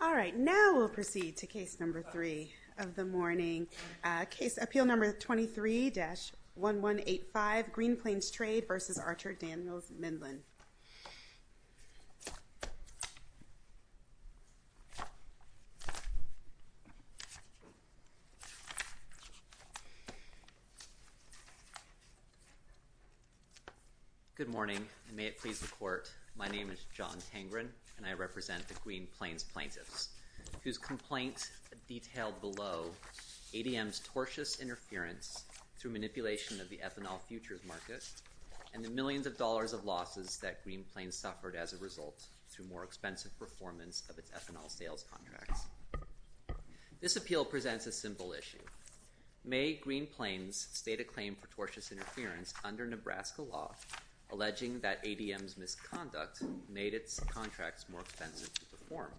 All right, now we'll proceed to case number three of the morning. Case appeal number 23-1185, Green Plains Trade v. Archer Daniels Midland. Good morning and may it please the court. My name is John Tengren and I represent the Green Plains plaintiffs, whose complaint detailed below ADM's tortious interference through manipulation of the ethanol futures market and the millions of dollars of losses that Green Plains suffered as a result through more expensive performance of its ethanol sales contracts. This appeal presents a simple issue. May Green Plains state a claim for tortious interference under Nebraska law alleging that ADM's misconduct made its contracts more expensive to perform.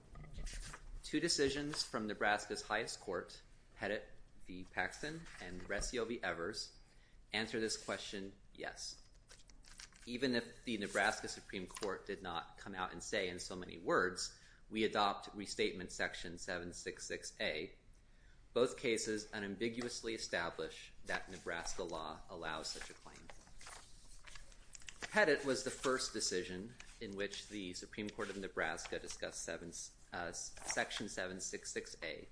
Two decisions from Nebraska's highest court, Pettit v. Paxton and Resio v. Evers, answer this question, yes. Even if the Nebraska Supreme Court did not come out and say in so many words, we adopt restatement section 766A, both cases unambiguously establish that Nebraska law allows such a claim. Pettit was the first decision in which the Supreme Court of Nebraska discussed section 766A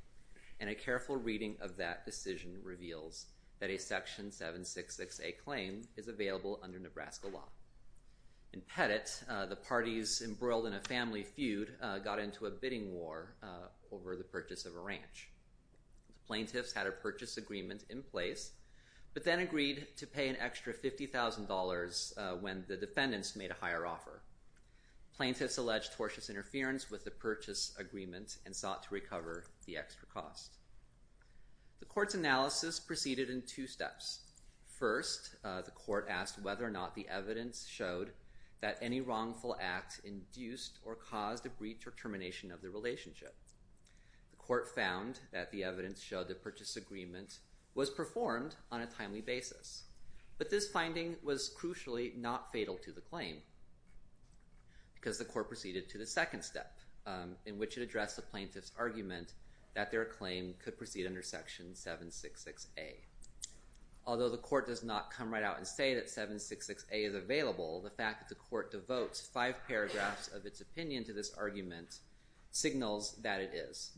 and a careful reading of that decision reveals that a section 766A claim is available under Nebraska law. In Pettit, the parties embroiled in a family feud got into a bidding war over the purchase of a ranch. Plaintiffs had a purchase agreement in place but then agreed to pay an extra $50,000 when the defendants made a higher offer. Plaintiffs alleged tortious interference with the purchase agreement and sought to recover the extra cost. The court's analysis proceeded in two steps. First, the court asked whether or not the evidence showed that any wrongful act induced or caused a breach or termination of the relationship. The court found that the evidence showed the purchase agreement was performed on a timely basis. But this finding was crucially not fatal to the claim because the court proceeded to the second step in which it addressed the plaintiff's argument that their claim could proceed under section 766A. Although the court does not come right out and say that 766A is available, the fact that the court devotes five paragraphs of its opinion to this argument signals that it is.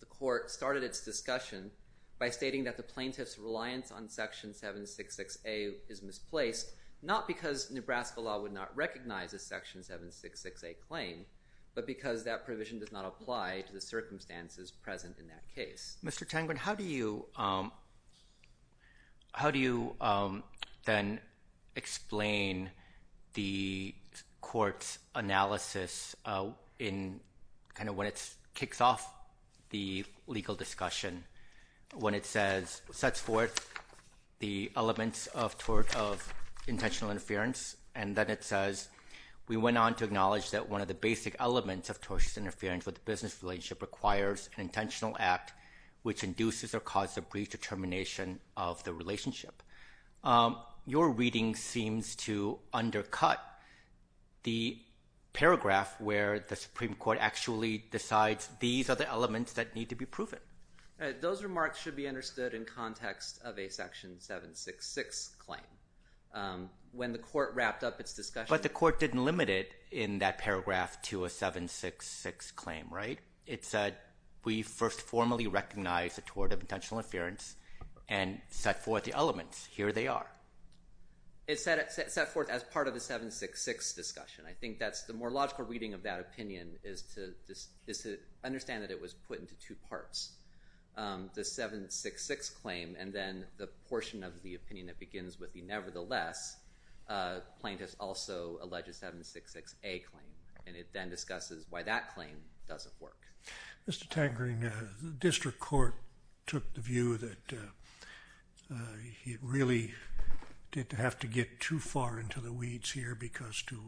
The court started its discussion by stating that the plaintiff's reliance on section 766A is misplaced not because Nebraska law would not recognize a section 766A claim but because that provision does not apply to the circumstances present in that case. Mr. Tenggren, how do you then explain the court's analysis when it kicks off the legal discussion when it says it sets forth the elements of intentional interference and then it says we went on to acknowledge that one of the basic elements of tortious interference with the business relationship requires an intentional act which induces or causes a brief determination of the relationship? Your reading seems to undercut the paragraph where the Supreme Court actually decides these are the elements that need to be proven. Those remarks should be understood in context of a section 766 claim. When the court wrapped up its discussion... It said we first formally recognized the tort of intentional interference and set forth the elements. Here they are. It set forth as part of the 766 discussion. I think the more logical reading of that opinion is to understand that it was put into two parts. The 766 claim and then the portion of the opinion that begins with the nevertheless. Plaintiff's also alleged 766A claim and it then discusses why that claim doesn't work. Mr. Tenggren, the district court took the view that it really didn't have to get too far into the weeds here because to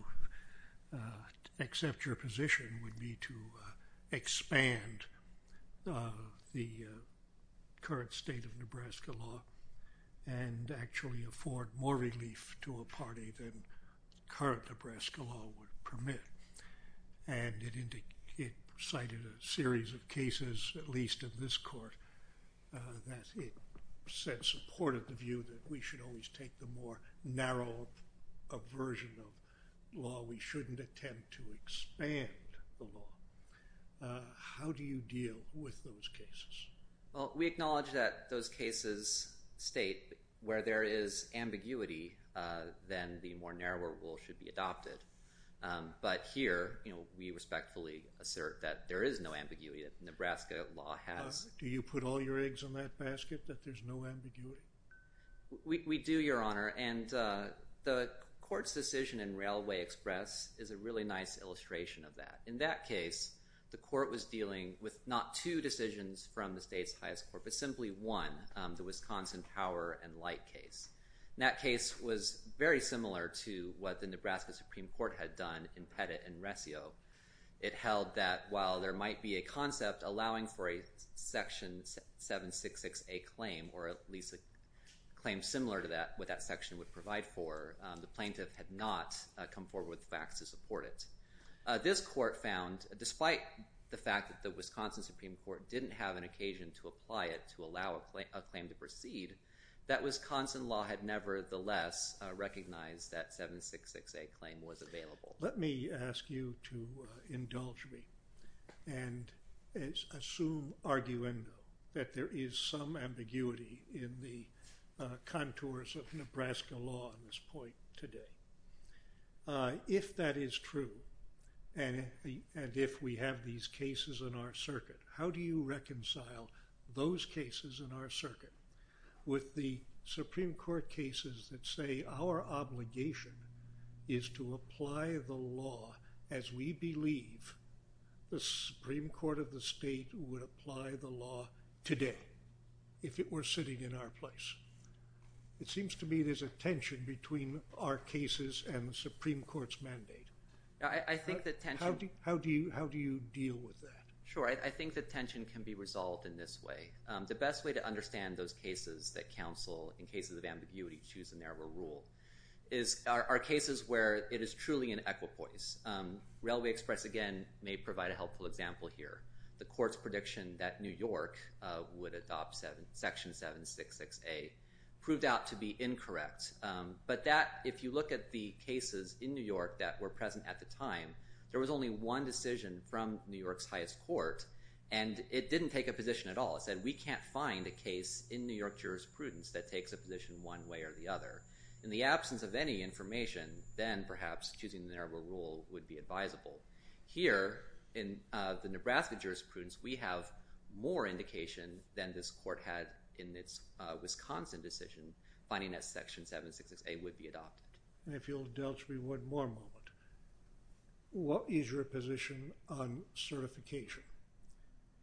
accept your position would be to expand the current state of Nebraska law and actually afford more relief to a party than current Nebraska law would permit. It cited a series of cases, at least in this court, that it said supported the view that we should always take the more narrow version of law. We shouldn't attempt to expand the law. How do you deal with those cases? We acknowledge that those cases state where there is ambiguity then the more narrower rule should be adopted. But here we respectfully assert that there is no ambiguity that Nebraska law has. Do you put all your eggs in that basket that there's no ambiguity? We do, Your Honor. The court's decision in Railway Express is a really nice illustration of that. In that case, the court was dealing with not two decisions from the state's highest court but simply one, the Wisconsin Power and Light case. That case was very similar to what the Nebraska Supreme Court had done in Pettit and Resio. It held that while there might be a concept allowing for a Section 766A claim or at least a claim similar to what that section would provide for, the plaintiff had not come forward with facts to support it. This court found, despite the fact that the Wisconsin Supreme Court didn't have an occasion to apply it to allow a claim to proceed, that Wisconsin law had nevertheless recognized that 766A claim was available. Let me ask you to indulge me and assume arguendo that there is some ambiguity in the contours of Nebraska law on this point today. If that is true and if we have these cases in our circuit, how do you reconcile those cases in our circuit with the Supreme Court cases that say our obligation is to apply the law as we believe the Supreme Court of the state would apply the law today if it were sitting in our place? It seems to me there's a tension between our cases and the Supreme Court's mandate. How do you deal with that? Sure. I think the tension can be resolved in this way. The best way to understand those cases that counsel in cases of ambiguity choose a narrower rule are cases where it is truly an equipoise. Railway Express, again, may provide a helpful example here. The court's prediction that New York would adopt Section 766A proved out to be incorrect. But if you look at the cases in New York that were present at the time, there was only one decision from New York's highest court and it didn't take a position at all. It said we can't find a case in New York jurisprudence that takes a position one way or the other. In the absence of any information, then perhaps choosing the narrower rule would be advisable. Here, in the Nebraska jurisprudence, we have more indication than this court had in its Wisconsin decision finding that Section 766A would be adopted. If you'll indulge me one more moment. What is your position on certification?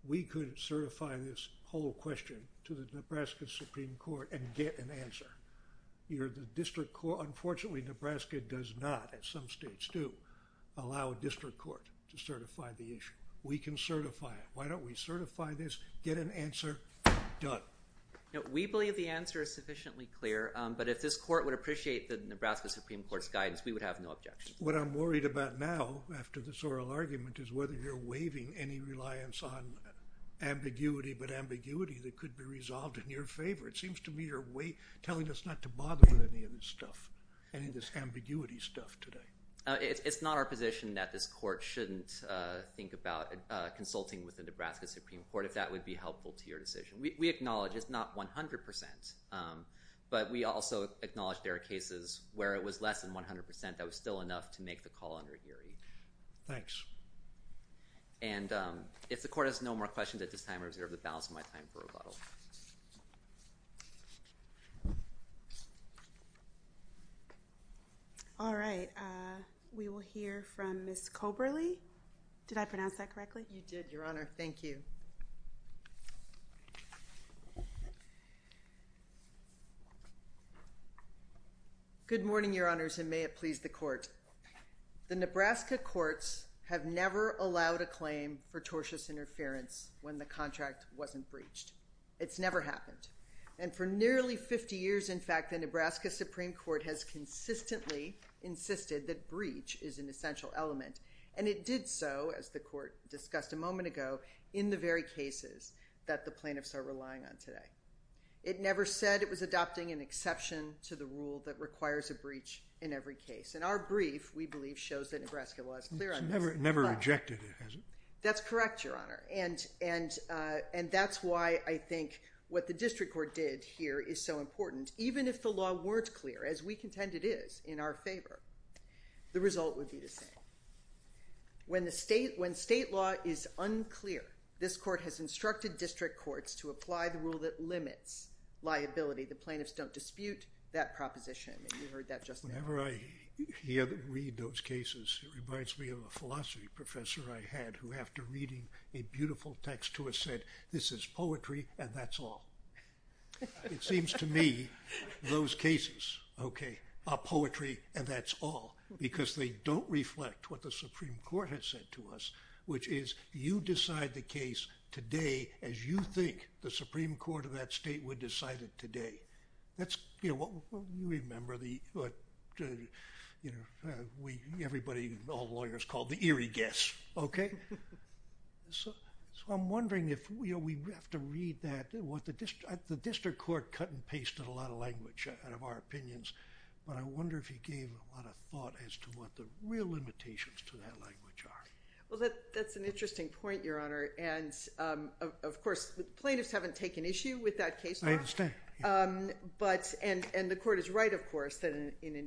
We could certify this whole question to the Nebraska Supreme Court and get an answer. The district court, unfortunately Nebraska does not, some states do, allow a district court to certify the issue. We can certify it. Why don't we certify this, get an answer, done. We believe the answer is sufficiently clear, but if this court would appreciate the Nebraska Supreme Court's guidance, we would have no objections. What I'm worried about now, after this oral argument, is whether you're waiving any reliance on ambiguity, but ambiguity that could be resolved in your favor. It seems to me you're telling us not to bother with any of this stuff, any of this ambiguity stuff today. It's not our position that this court shouldn't think about consulting with the Nebraska Supreme Court if that would be helpful to your decision. We acknowledge it's not 100%, but we also acknowledge there are cases where it was less than 100% that was still enough to make the call under Geary. Thanks. If the court has no more questions at this time, I reserve the balance of my time for rebuttal. All right. We will hear from Ms. Coberly. Did I pronounce that correctly? You did, Your Honor. Thank you. Good morning, Your Honors, and may it please the court. The Nebraska courts have never allowed a claim for tortious interference when the contract wasn't breached. It's never happened. And for nearly 50 years, in fact, the Nebraska Supreme Court has consistently insisted that breach is an essential element. And it did so, as the court discussed a moment ago, in the very cases that the plaintiffs are relying on today. It never said it was adopting an exception to the rule that requires a breach in every case. And our brief, we believe, shows that Nebraska law is clear on this. It never rejected it, has it? That's correct, Your Honor. And that's why I think what the district court did here is so important. Even if the law weren't clear, as we contend it is in our favor, the result would be the same. When state law is unclear, this court has instructed district courts to apply the rule that limits liability. The plaintiffs don't dispute that proposition. And you heard that just now. Whenever I hear them read those cases, it reminds me of a philosophy professor I had who, after reading a beautiful text to us, said, this is poetry, and that's all. It seems to me, those cases, okay, are poetry, and that's all. Because they don't reflect what the Supreme Court has said to us, which is, you decide the case today as you think the Supreme Court of that state would decide it today. That's, you know, remember the, you know, everybody, all lawyers, called the eerie guess. Okay? So I'm wondering if, you know, we have to read that. The district court cut and pasted a lot of language out of our opinions. But I wonder if you gave a lot of thought as to what the real limitations to that language are. Well, that's an interesting point, Your Honor. And, of course, plaintiffs haven't taken issue with that case law. I understand. And the court is right, of course, that under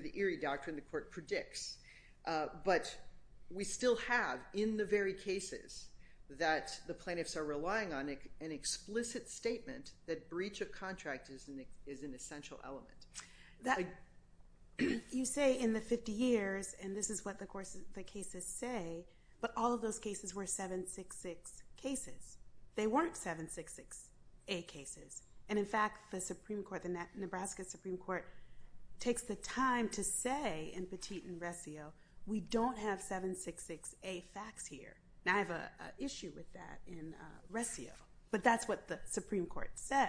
the eerie doctrine, the court predicts. But, we still have, in the very cases, that the plaintiffs are relying on an explicit statement that breach of contract is an essential element. You say, in the 50 years, and this is what the cases say, but all of those cases were 766 cases. They weren't 766A cases. And, in fact, the Supreme Court, the Nebraska Supreme Court, takes the time to say in Petit and Resio, we don't have 766A facts here. Now, I have an issue with that in Resio. But that's what the Supreme Court says.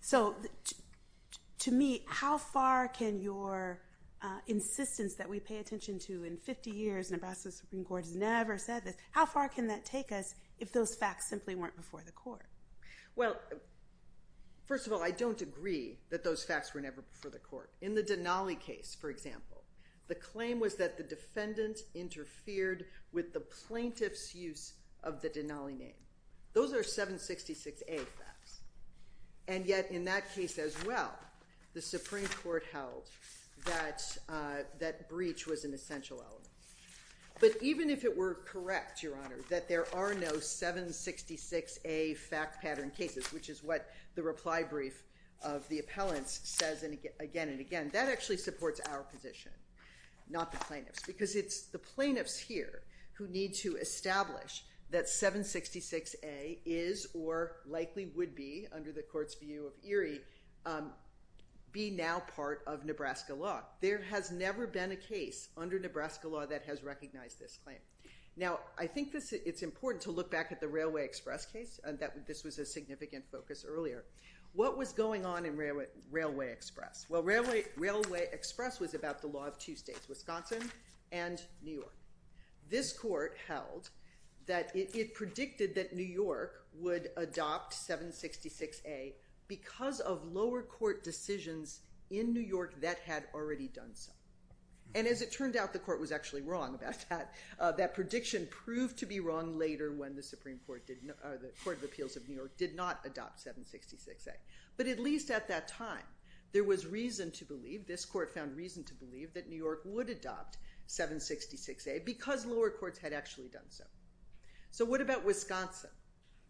So, to me, how far can your insistence that we pay attention to in 50 years, Nebraska Supreme Court has never said this, how far can that take us if those facts simply weren't before the court? Well, first of all, I don't agree that those facts were never before the court. In the Denali case, for example, the claim was that the defendant interfered with the plaintiff's use of the Denali name. Those are 766A facts. And yet, in that case, as well, the Supreme Court held that breach was an essential element. But even if it were correct, Your Honor, that there are no 766A fact pattern cases, which is what the reply brief of the appellants says again and again, that actually supports our position, not the plaintiff's. Because it's the plaintiff's here who need to establish that 766A is or likely would be, under the court's view of Erie, be now part of Nebraska law. There has never been a case under Nebraska law that has recognized this claim. Now, I think it's important to look back at the Railway Express case. This was a significant focus earlier. What was going on in Railway Express? Well, Railway Express was about the law of two states, Wisconsin and New York. This court held that it predicted that New York would adopt 766A because of lower court decisions in New York that had already done so. And as it turned out, the court was actually wrong about that. That prediction proved to be wrong later when the Supreme Court or the Court of Appeals of New York did not adopt 766A. But at least at that time, there was reason to believe, this court found reason to believe that New York would adopt 766A because lower courts had actually done so. So what about Wisconsin?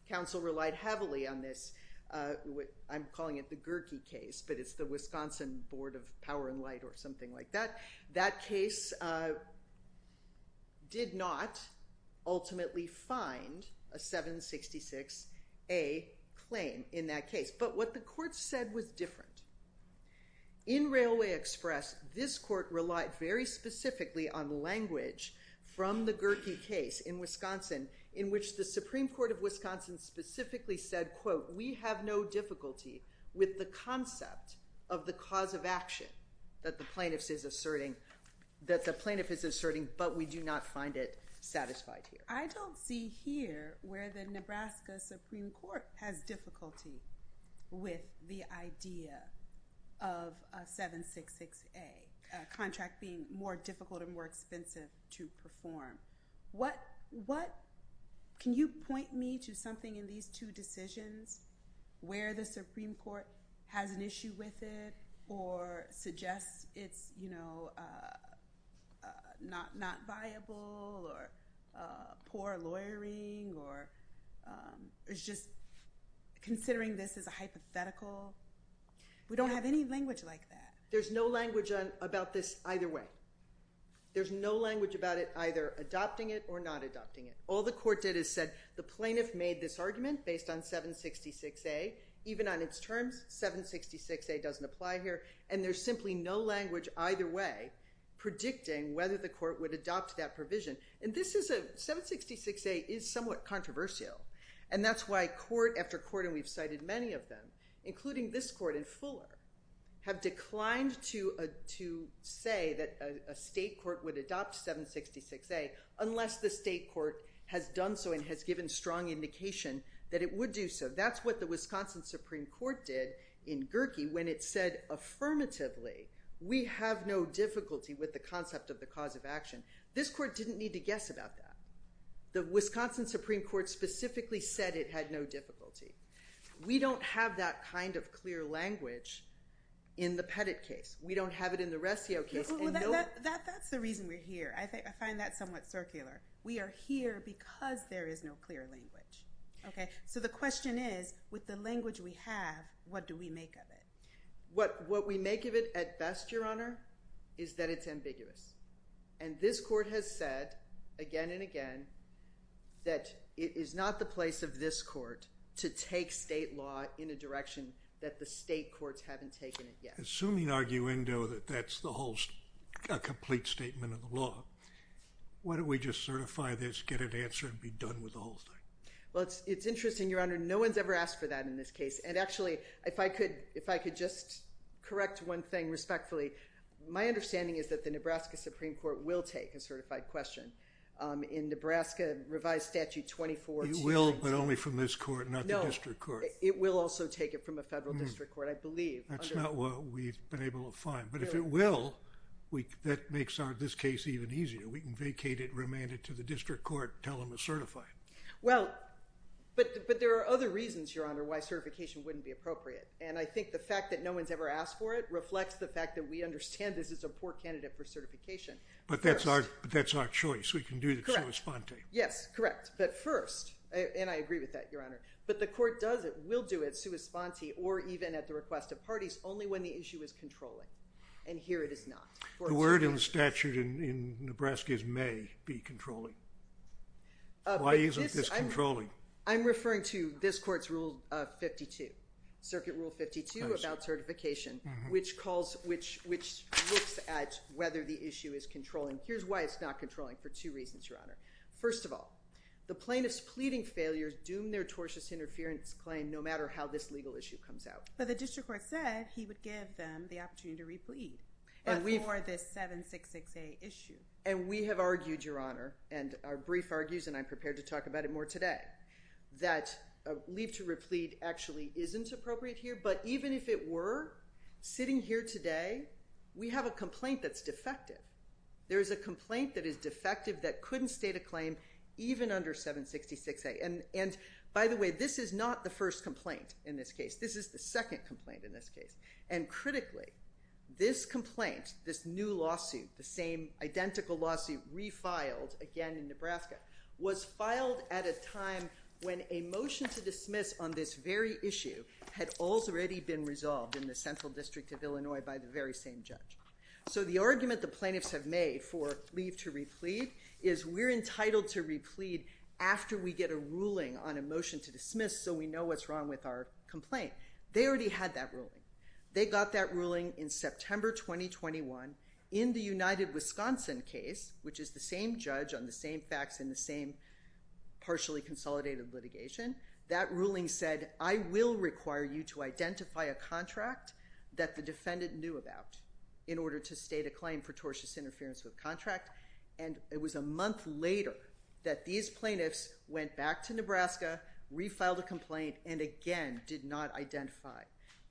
Council relied heavily on this, I'm calling it the Gherke case, but it's the Wisconsin Board of Power and Light or something like that. That case did not ultimately find a 766A claim in that case. But what the court said was different. In Railway Express, this court relied very specifically on language from the Gherke case in Wisconsin in which the Supreme Court of Wisconsin specifically said quote, we have no difficulty with the concept of the cause of action that the plaintiff is asserting but we do not find it satisfied here. I don't see here where the Nebraska Supreme Court has difficulty with the idea of a 766A. A contract being more difficult and more expensive to perform. Can you point me to something in these two decisions where the Supreme Court has an issue with it or suggests it's you know not viable or poor lawyering or considering this as a hypothetical. We don't have any language like that. There's no language about this either way. There's no language about it either adopting it or not adopting it. All the court did is said the plaintiff made this argument based on 766A even on its terms 766A doesn't apply here and there's simply no language either way predicting whether the court would adopt that provision. 766A is somewhat controversial and that's why court after court including this court and Fuller have declined to say that a state court would adopt 766A unless the state court has done so and has given strong indication that it would do so. That's what the Wisconsin Supreme Court did in Gerkey when it said affirmatively we have no difficulty with the concept of the cause of action. This court didn't need to guess about that. The Wisconsin Supreme Court specifically said it had no difficulty. We don't have that kind of clear language in the Pettit case. We don't have it in the Rescio case. That's the reason we're here. I find that somewhat circular. We are here because there is no clear language. So the question is with the language we have what do we make of it? What we make of it at best Your Honor is that it's ambiguous and this court has said again and again that it is not the place of this court to take state law in a direction that the state courts haven't taken it yet. Assuming arguendo that that's the whole complete statement of the law why don't we just certify this get an answer and be done with the whole thing? Well it's interesting Your Honor. No one has ever asked for that in this case and actually if I could just correct one thing respectfully my understanding is that the Nebraska Supreme Court will take a certified question in Nebraska revised statute 24. It will but only from this court not the district court. No. It will also take it from a federal district court I believe. That's not what we've been able to find but if it will that makes this case even easier we can vacate it, remand it to the district court, tell them to certify it. Well but there are other reasons Your Honor why certification wouldn't be appropriate and I think the fact that no one's ever asked for it reflects the fact that we understand this is a poor candidate for certification but that's our choice we can do it sua sponte. Yes correct but first and I agree with that Your Honor but the court does it will do it sua sponte or even at the request of parties only when the issue is controlling and here it is not. The word in the statute in Nebraska is may be controlling why isn't this controlling? I'm referring to this court's rule 52 circuit rule 52 about certification which calls, which looks at whether the issue is controlling here's why it's not controlling for two reasons Your Honor. First of all the plaintiff's pleading failure doomed their tortious interference claim no matter how this legal issue comes out. But the district court said he would give them the opportunity to replead but for this 766A issue. And we have argued Your Honor and our brief argues and I'm prepared to talk about it more today that leave to replead actually isn't appropriate here but even if it were sitting here today we have a complaint that's defective there's a complaint that is defective that couldn't state a claim even under 766A and by the way this is not the first complaint in this case. This is the second complaint in this case and critically this complaint, this new lawsuit the same identical lawsuit refiled again in Nebraska was filed at a time when a motion to dismiss on this very issue had already been resolved in the central district of Illinois by the very same judge so the argument the plaintiffs have made for leave to replead is we're entitled to replead after we get a ruling on a motion to dismiss so we know what's wrong with our complaint. They already had that ruling they got that ruling in September 2021 in the United Wisconsin case which is the same judge on the same facts in the same partially consolidated litigation. That ruling said I will require you to identify a contract that the defendant knew about in order to state a claim for tortious interference with contract and it was a month later that these plaintiffs went back to Nebraska refiled a complaint and again did not identify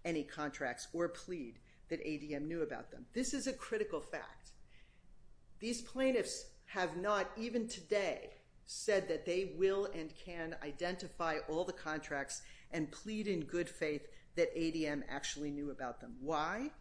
any contracts or plead that ADM knew about them. This is a critical fact these plaintiffs have not even today said that they will and can identify all the contracts and plead in good faith that ADM actually knew about them. Why?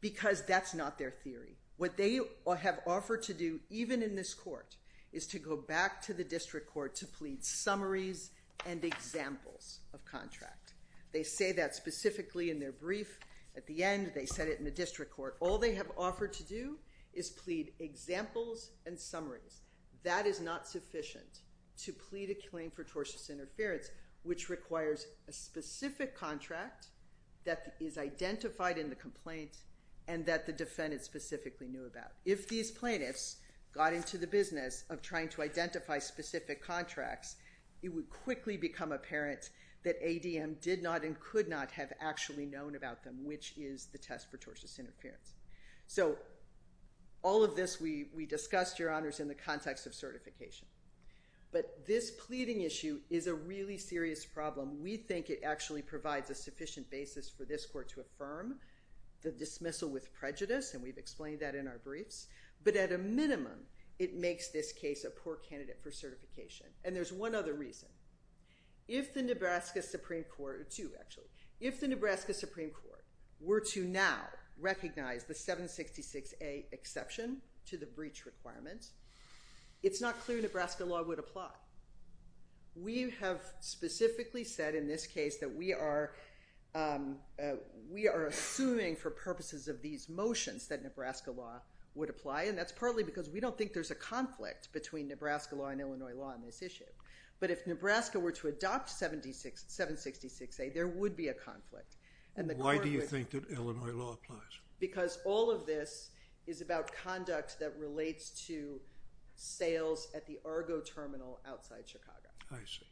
Because that's not their theory. What they have offered to do even in this court is to go back to the district court to plead summaries and examples of contract they say that specifically in their brief at the end they said it in the district court. All they have offered to do is plead examples and summaries. That is not sufficient to plead a claim for tortious interference which requires a specific contract that is identified in the complaint and that the defendant specifically knew about. If these plaintiffs got into the business of trying to identify specific contracts it would quickly become apparent that ADM did not and could not have actually known about them which is the test for tortious interference. So all of this we discussed your honors in the context of certification but this pleading issue is a really serious problem. We think it actually provides a sufficient basis for this court to affirm the dismissal with prejudice and we've explained that in our briefs but at a minimum it makes this case a poor candidate for certification and there's one other reason. If the Nebraska Supreme Court, two actually if the Nebraska Supreme Court were to now recognize the 766A exception to the breach requirement it's not clear Nebraska law would apply. We have specifically said in this case that we are we are assuming for purposes of these motions that Nebraska law would apply and that's partly because we don't think there's a conflict between Nebraska law and Illinois law in this issue. But if Nebraska were to adopt 766A there would be a conflict. Why do you think that Illinois law applies? Because all of this is about conduct that relates to sales at the Argo terminal outside Chicago. I see.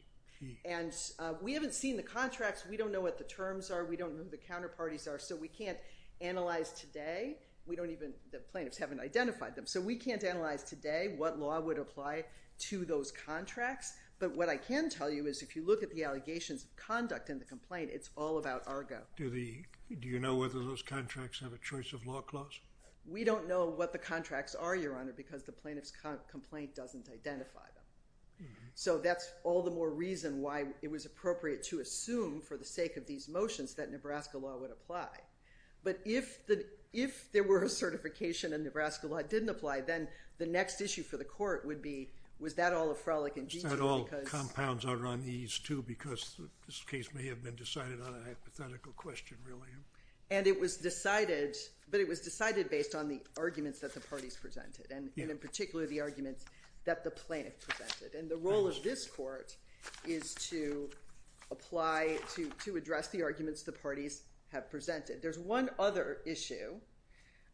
And we haven't seen the contracts. We don't know what the terms are. We don't know who the counterparties are so we can't analyze today. We don't even the plaintiffs haven't identified them so we can't analyze today what law would apply to those contracts But what I can tell you is if you look at the allegations of conduct in the complaint it's all about Argo. Do you know whether those contracts have a choice of law clause? We don't know what the contracts are your honor because the plaintiff's complaint doesn't identify them. So that's all the more reason why it was appropriate to assume for the sake of these motions that Nebraska law would apply. But if there were a certification and Nebraska law didn't apply then the next issue for the court would be Was that all a frolic in G2? But all compounds are on ease too because this case may have been decided on a hypothetical question really. And it was decided based on the arguments that the parties presented and in particular the arguments that the plaintiff presented. And the role of this court is to apply to address the arguments the parties have presented. There's one other issue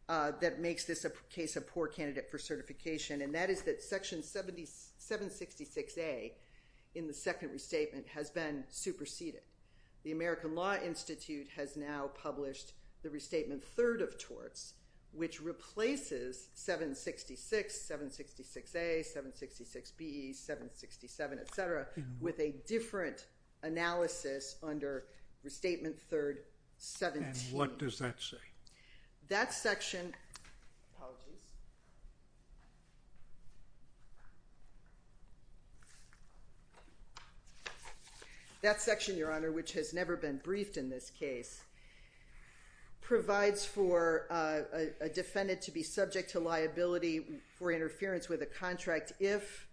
that makes this a case of poor candidate for certification and that is that section 766A in the second restatement has been superseded. The American Law Institute has now published the restatement third of torts which replaces 766, 766A 766B, 767 etc. with a different analysis under restatement third 17. And what does that say? That section apologies That section your honor which has never been briefed in this case provides for a defendant to be subject to liability for interference with a contract if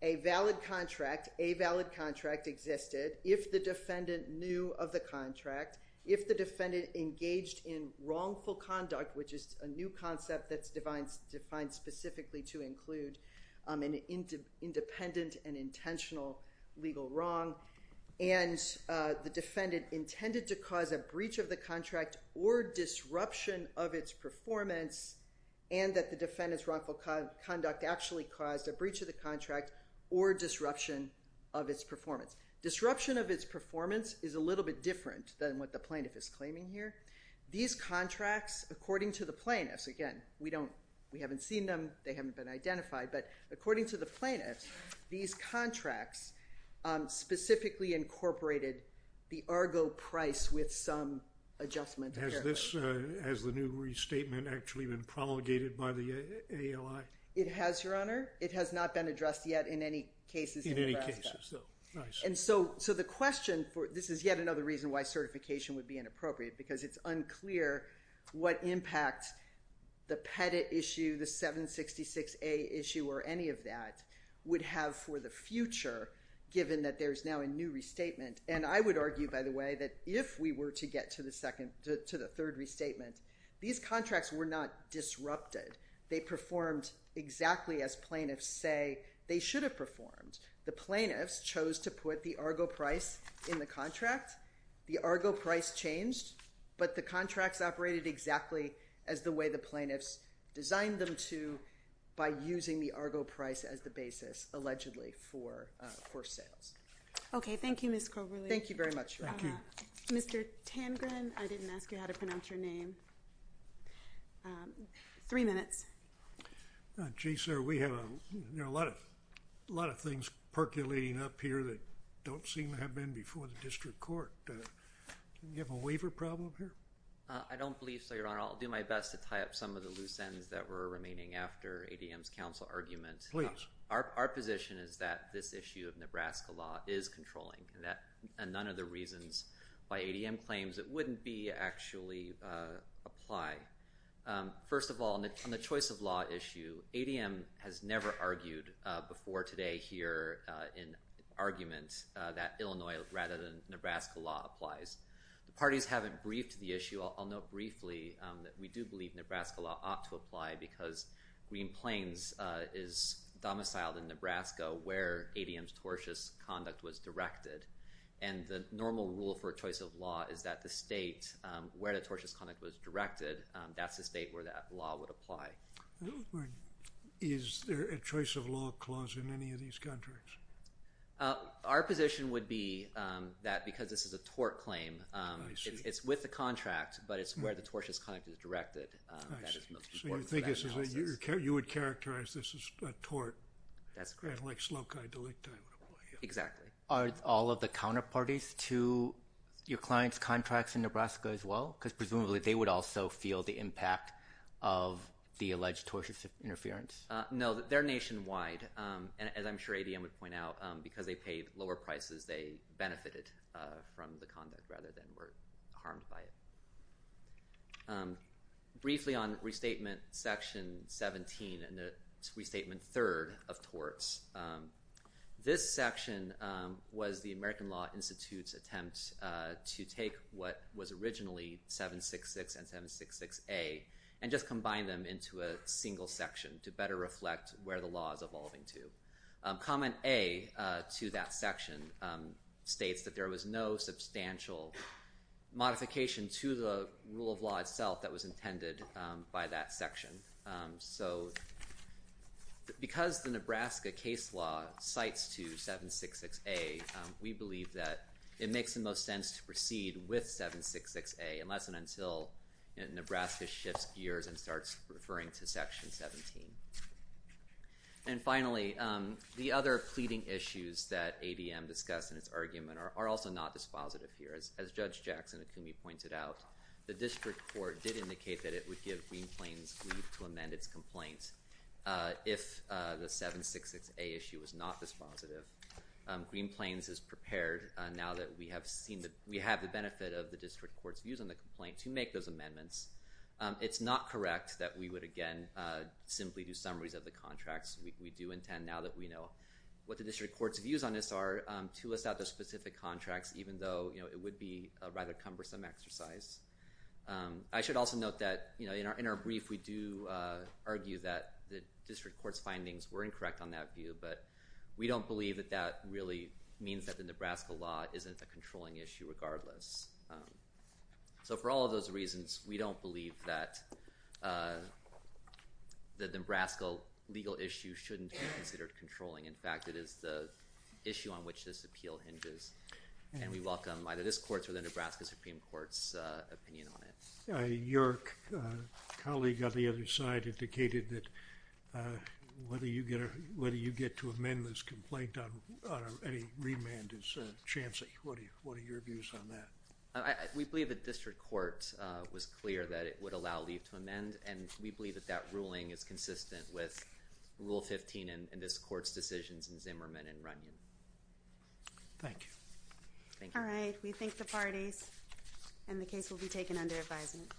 a valid contract, a valid contract existed, if the defendant knew of the contract if the defendant engaged in wrongful conduct which is a new concept that's defined specifically to include independent and intentional legal wrong and the defendant intended to cause a breach of the contract or disruption of its performance and that the defendant's wrongful conduct actually caused a breach of the contract or disruption of its performance Disruption of its performance is a little bit different than what the plaintiff is claiming here. These contracts according to the plaintiffs again we don't, we haven't seen them they haven't been identified but according to the plaintiffs these contracts specifically incorporated the ARGO price with some adjustment Has this, has the new restatement actually been promulgated by the AOI? It has your honor it has not been addressed yet in any cases in any cases and so the question for, this is inappropriate because it's unclear what impact the Pettit issue, the 766A issue or any of that would have for the future given that there's now a new restatement and I would argue by the way that if we were to get to the second, to the third restatement, these contracts were not disrupted they performed exactly as plaintiffs say they should have performed the plaintiffs chose to put the ARGO price in the contract the ARGO price changed but the contracts operated exactly as the way the plaintiffs designed them to by using the ARGO price as the basis allegedly for sales Okay, thank you Ms. Coverley Thank you very much your honor Mr. Tangren, I didn't ask you how to pronounce your name three minutes Gee sir, we have a lot of things percolating up here that don't seem to have been before the district court Do you have a waiver problem here? I don't believe so your honor I'll do my best to tie up some of the loose ends that were remaining after ADM's counsel argument Our position is that this issue of Nebraska law is controlling and none of the reasons by ADM claims it wouldn't be actually apply First of all, on the choice of law issue, ADM has never argued before today here in argument that Illinois rather than Nebraska law applies. The parties haven't briefed the issue. I'll note briefly that we do believe Nebraska law ought to apply because Green Plains is domiciled in Nebraska where ADM's tortious conduct was directed and the normal rule for choice of law is that the state where the tortious conduct was directed, that's the state where that law would apply Is there a choice of law clause in any of these contracts? Our position would be that because this is a tort claim it's with the contract but it's where the tortious conduct is directed that is most important for that process So you would characterize this as a tort? That's correct Exactly Are all of the counterparties to your client's contracts in Nebraska as well? Because presumably they would also feel the impact of the alleged tortious interference No, they're nationwide and as I'm sure ADM would point out because they paid lower prices they benefited from the conduct rather than were harmed by it Briefly on restatement section 17 and restatement 3rd of torts this section was the American Law Institute's attempt to take what was originally 766 and 766A and just combine them into a single section to better reflect where the law is evolving to Comment A to that section states that there was no substantial modification to the rule of law itself that was intended by that section So because the Nebraska case law cites to 766A we believe that it makes the most sense to proceed with 766A unless and until Nebraska shifts gears and starts referring to section 17 And finally the other pleading issues that ADM discussed in its argument are also not dispositive here As Judge Jackson-Akumi pointed out the district court did indicate that it would give Green Plains leave to amend its complaints if the 766A issue was not dispositive. Green Plains is prepared now that we have seen that we have the benefit of the district court's views on the complaint to make those amendments It's not correct that we would again simply do summaries of the contracts. We do intend now that we know what the district court's views on this are to list out the specific contracts even though it would be a rather cumbersome exercise I should also note that in our brief we do argue that the district court's findings were incorrect on that view but we don't believe that that really means that the Nebraska law isn't a controlling issue regardless So for all of those reasons, we don't believe that the Nebraska legal issue shouldn't be considered controlling. In fact, it is the issue on which this appeal hinges and we welcome either this court's or the Nebraska Supreme Court's opinion on it Your colleague on the other side indicated that whether you get to amend this complaint on any remand Chancellor, what are your views on that? We believe that the district court was clear that it would allow leave to amend and we believe that that ruling is consistent with Rule 15 in this court's decisions in Zimmerman and Runyon Thank you Alright, we thank the parties and the case will be taken under advisement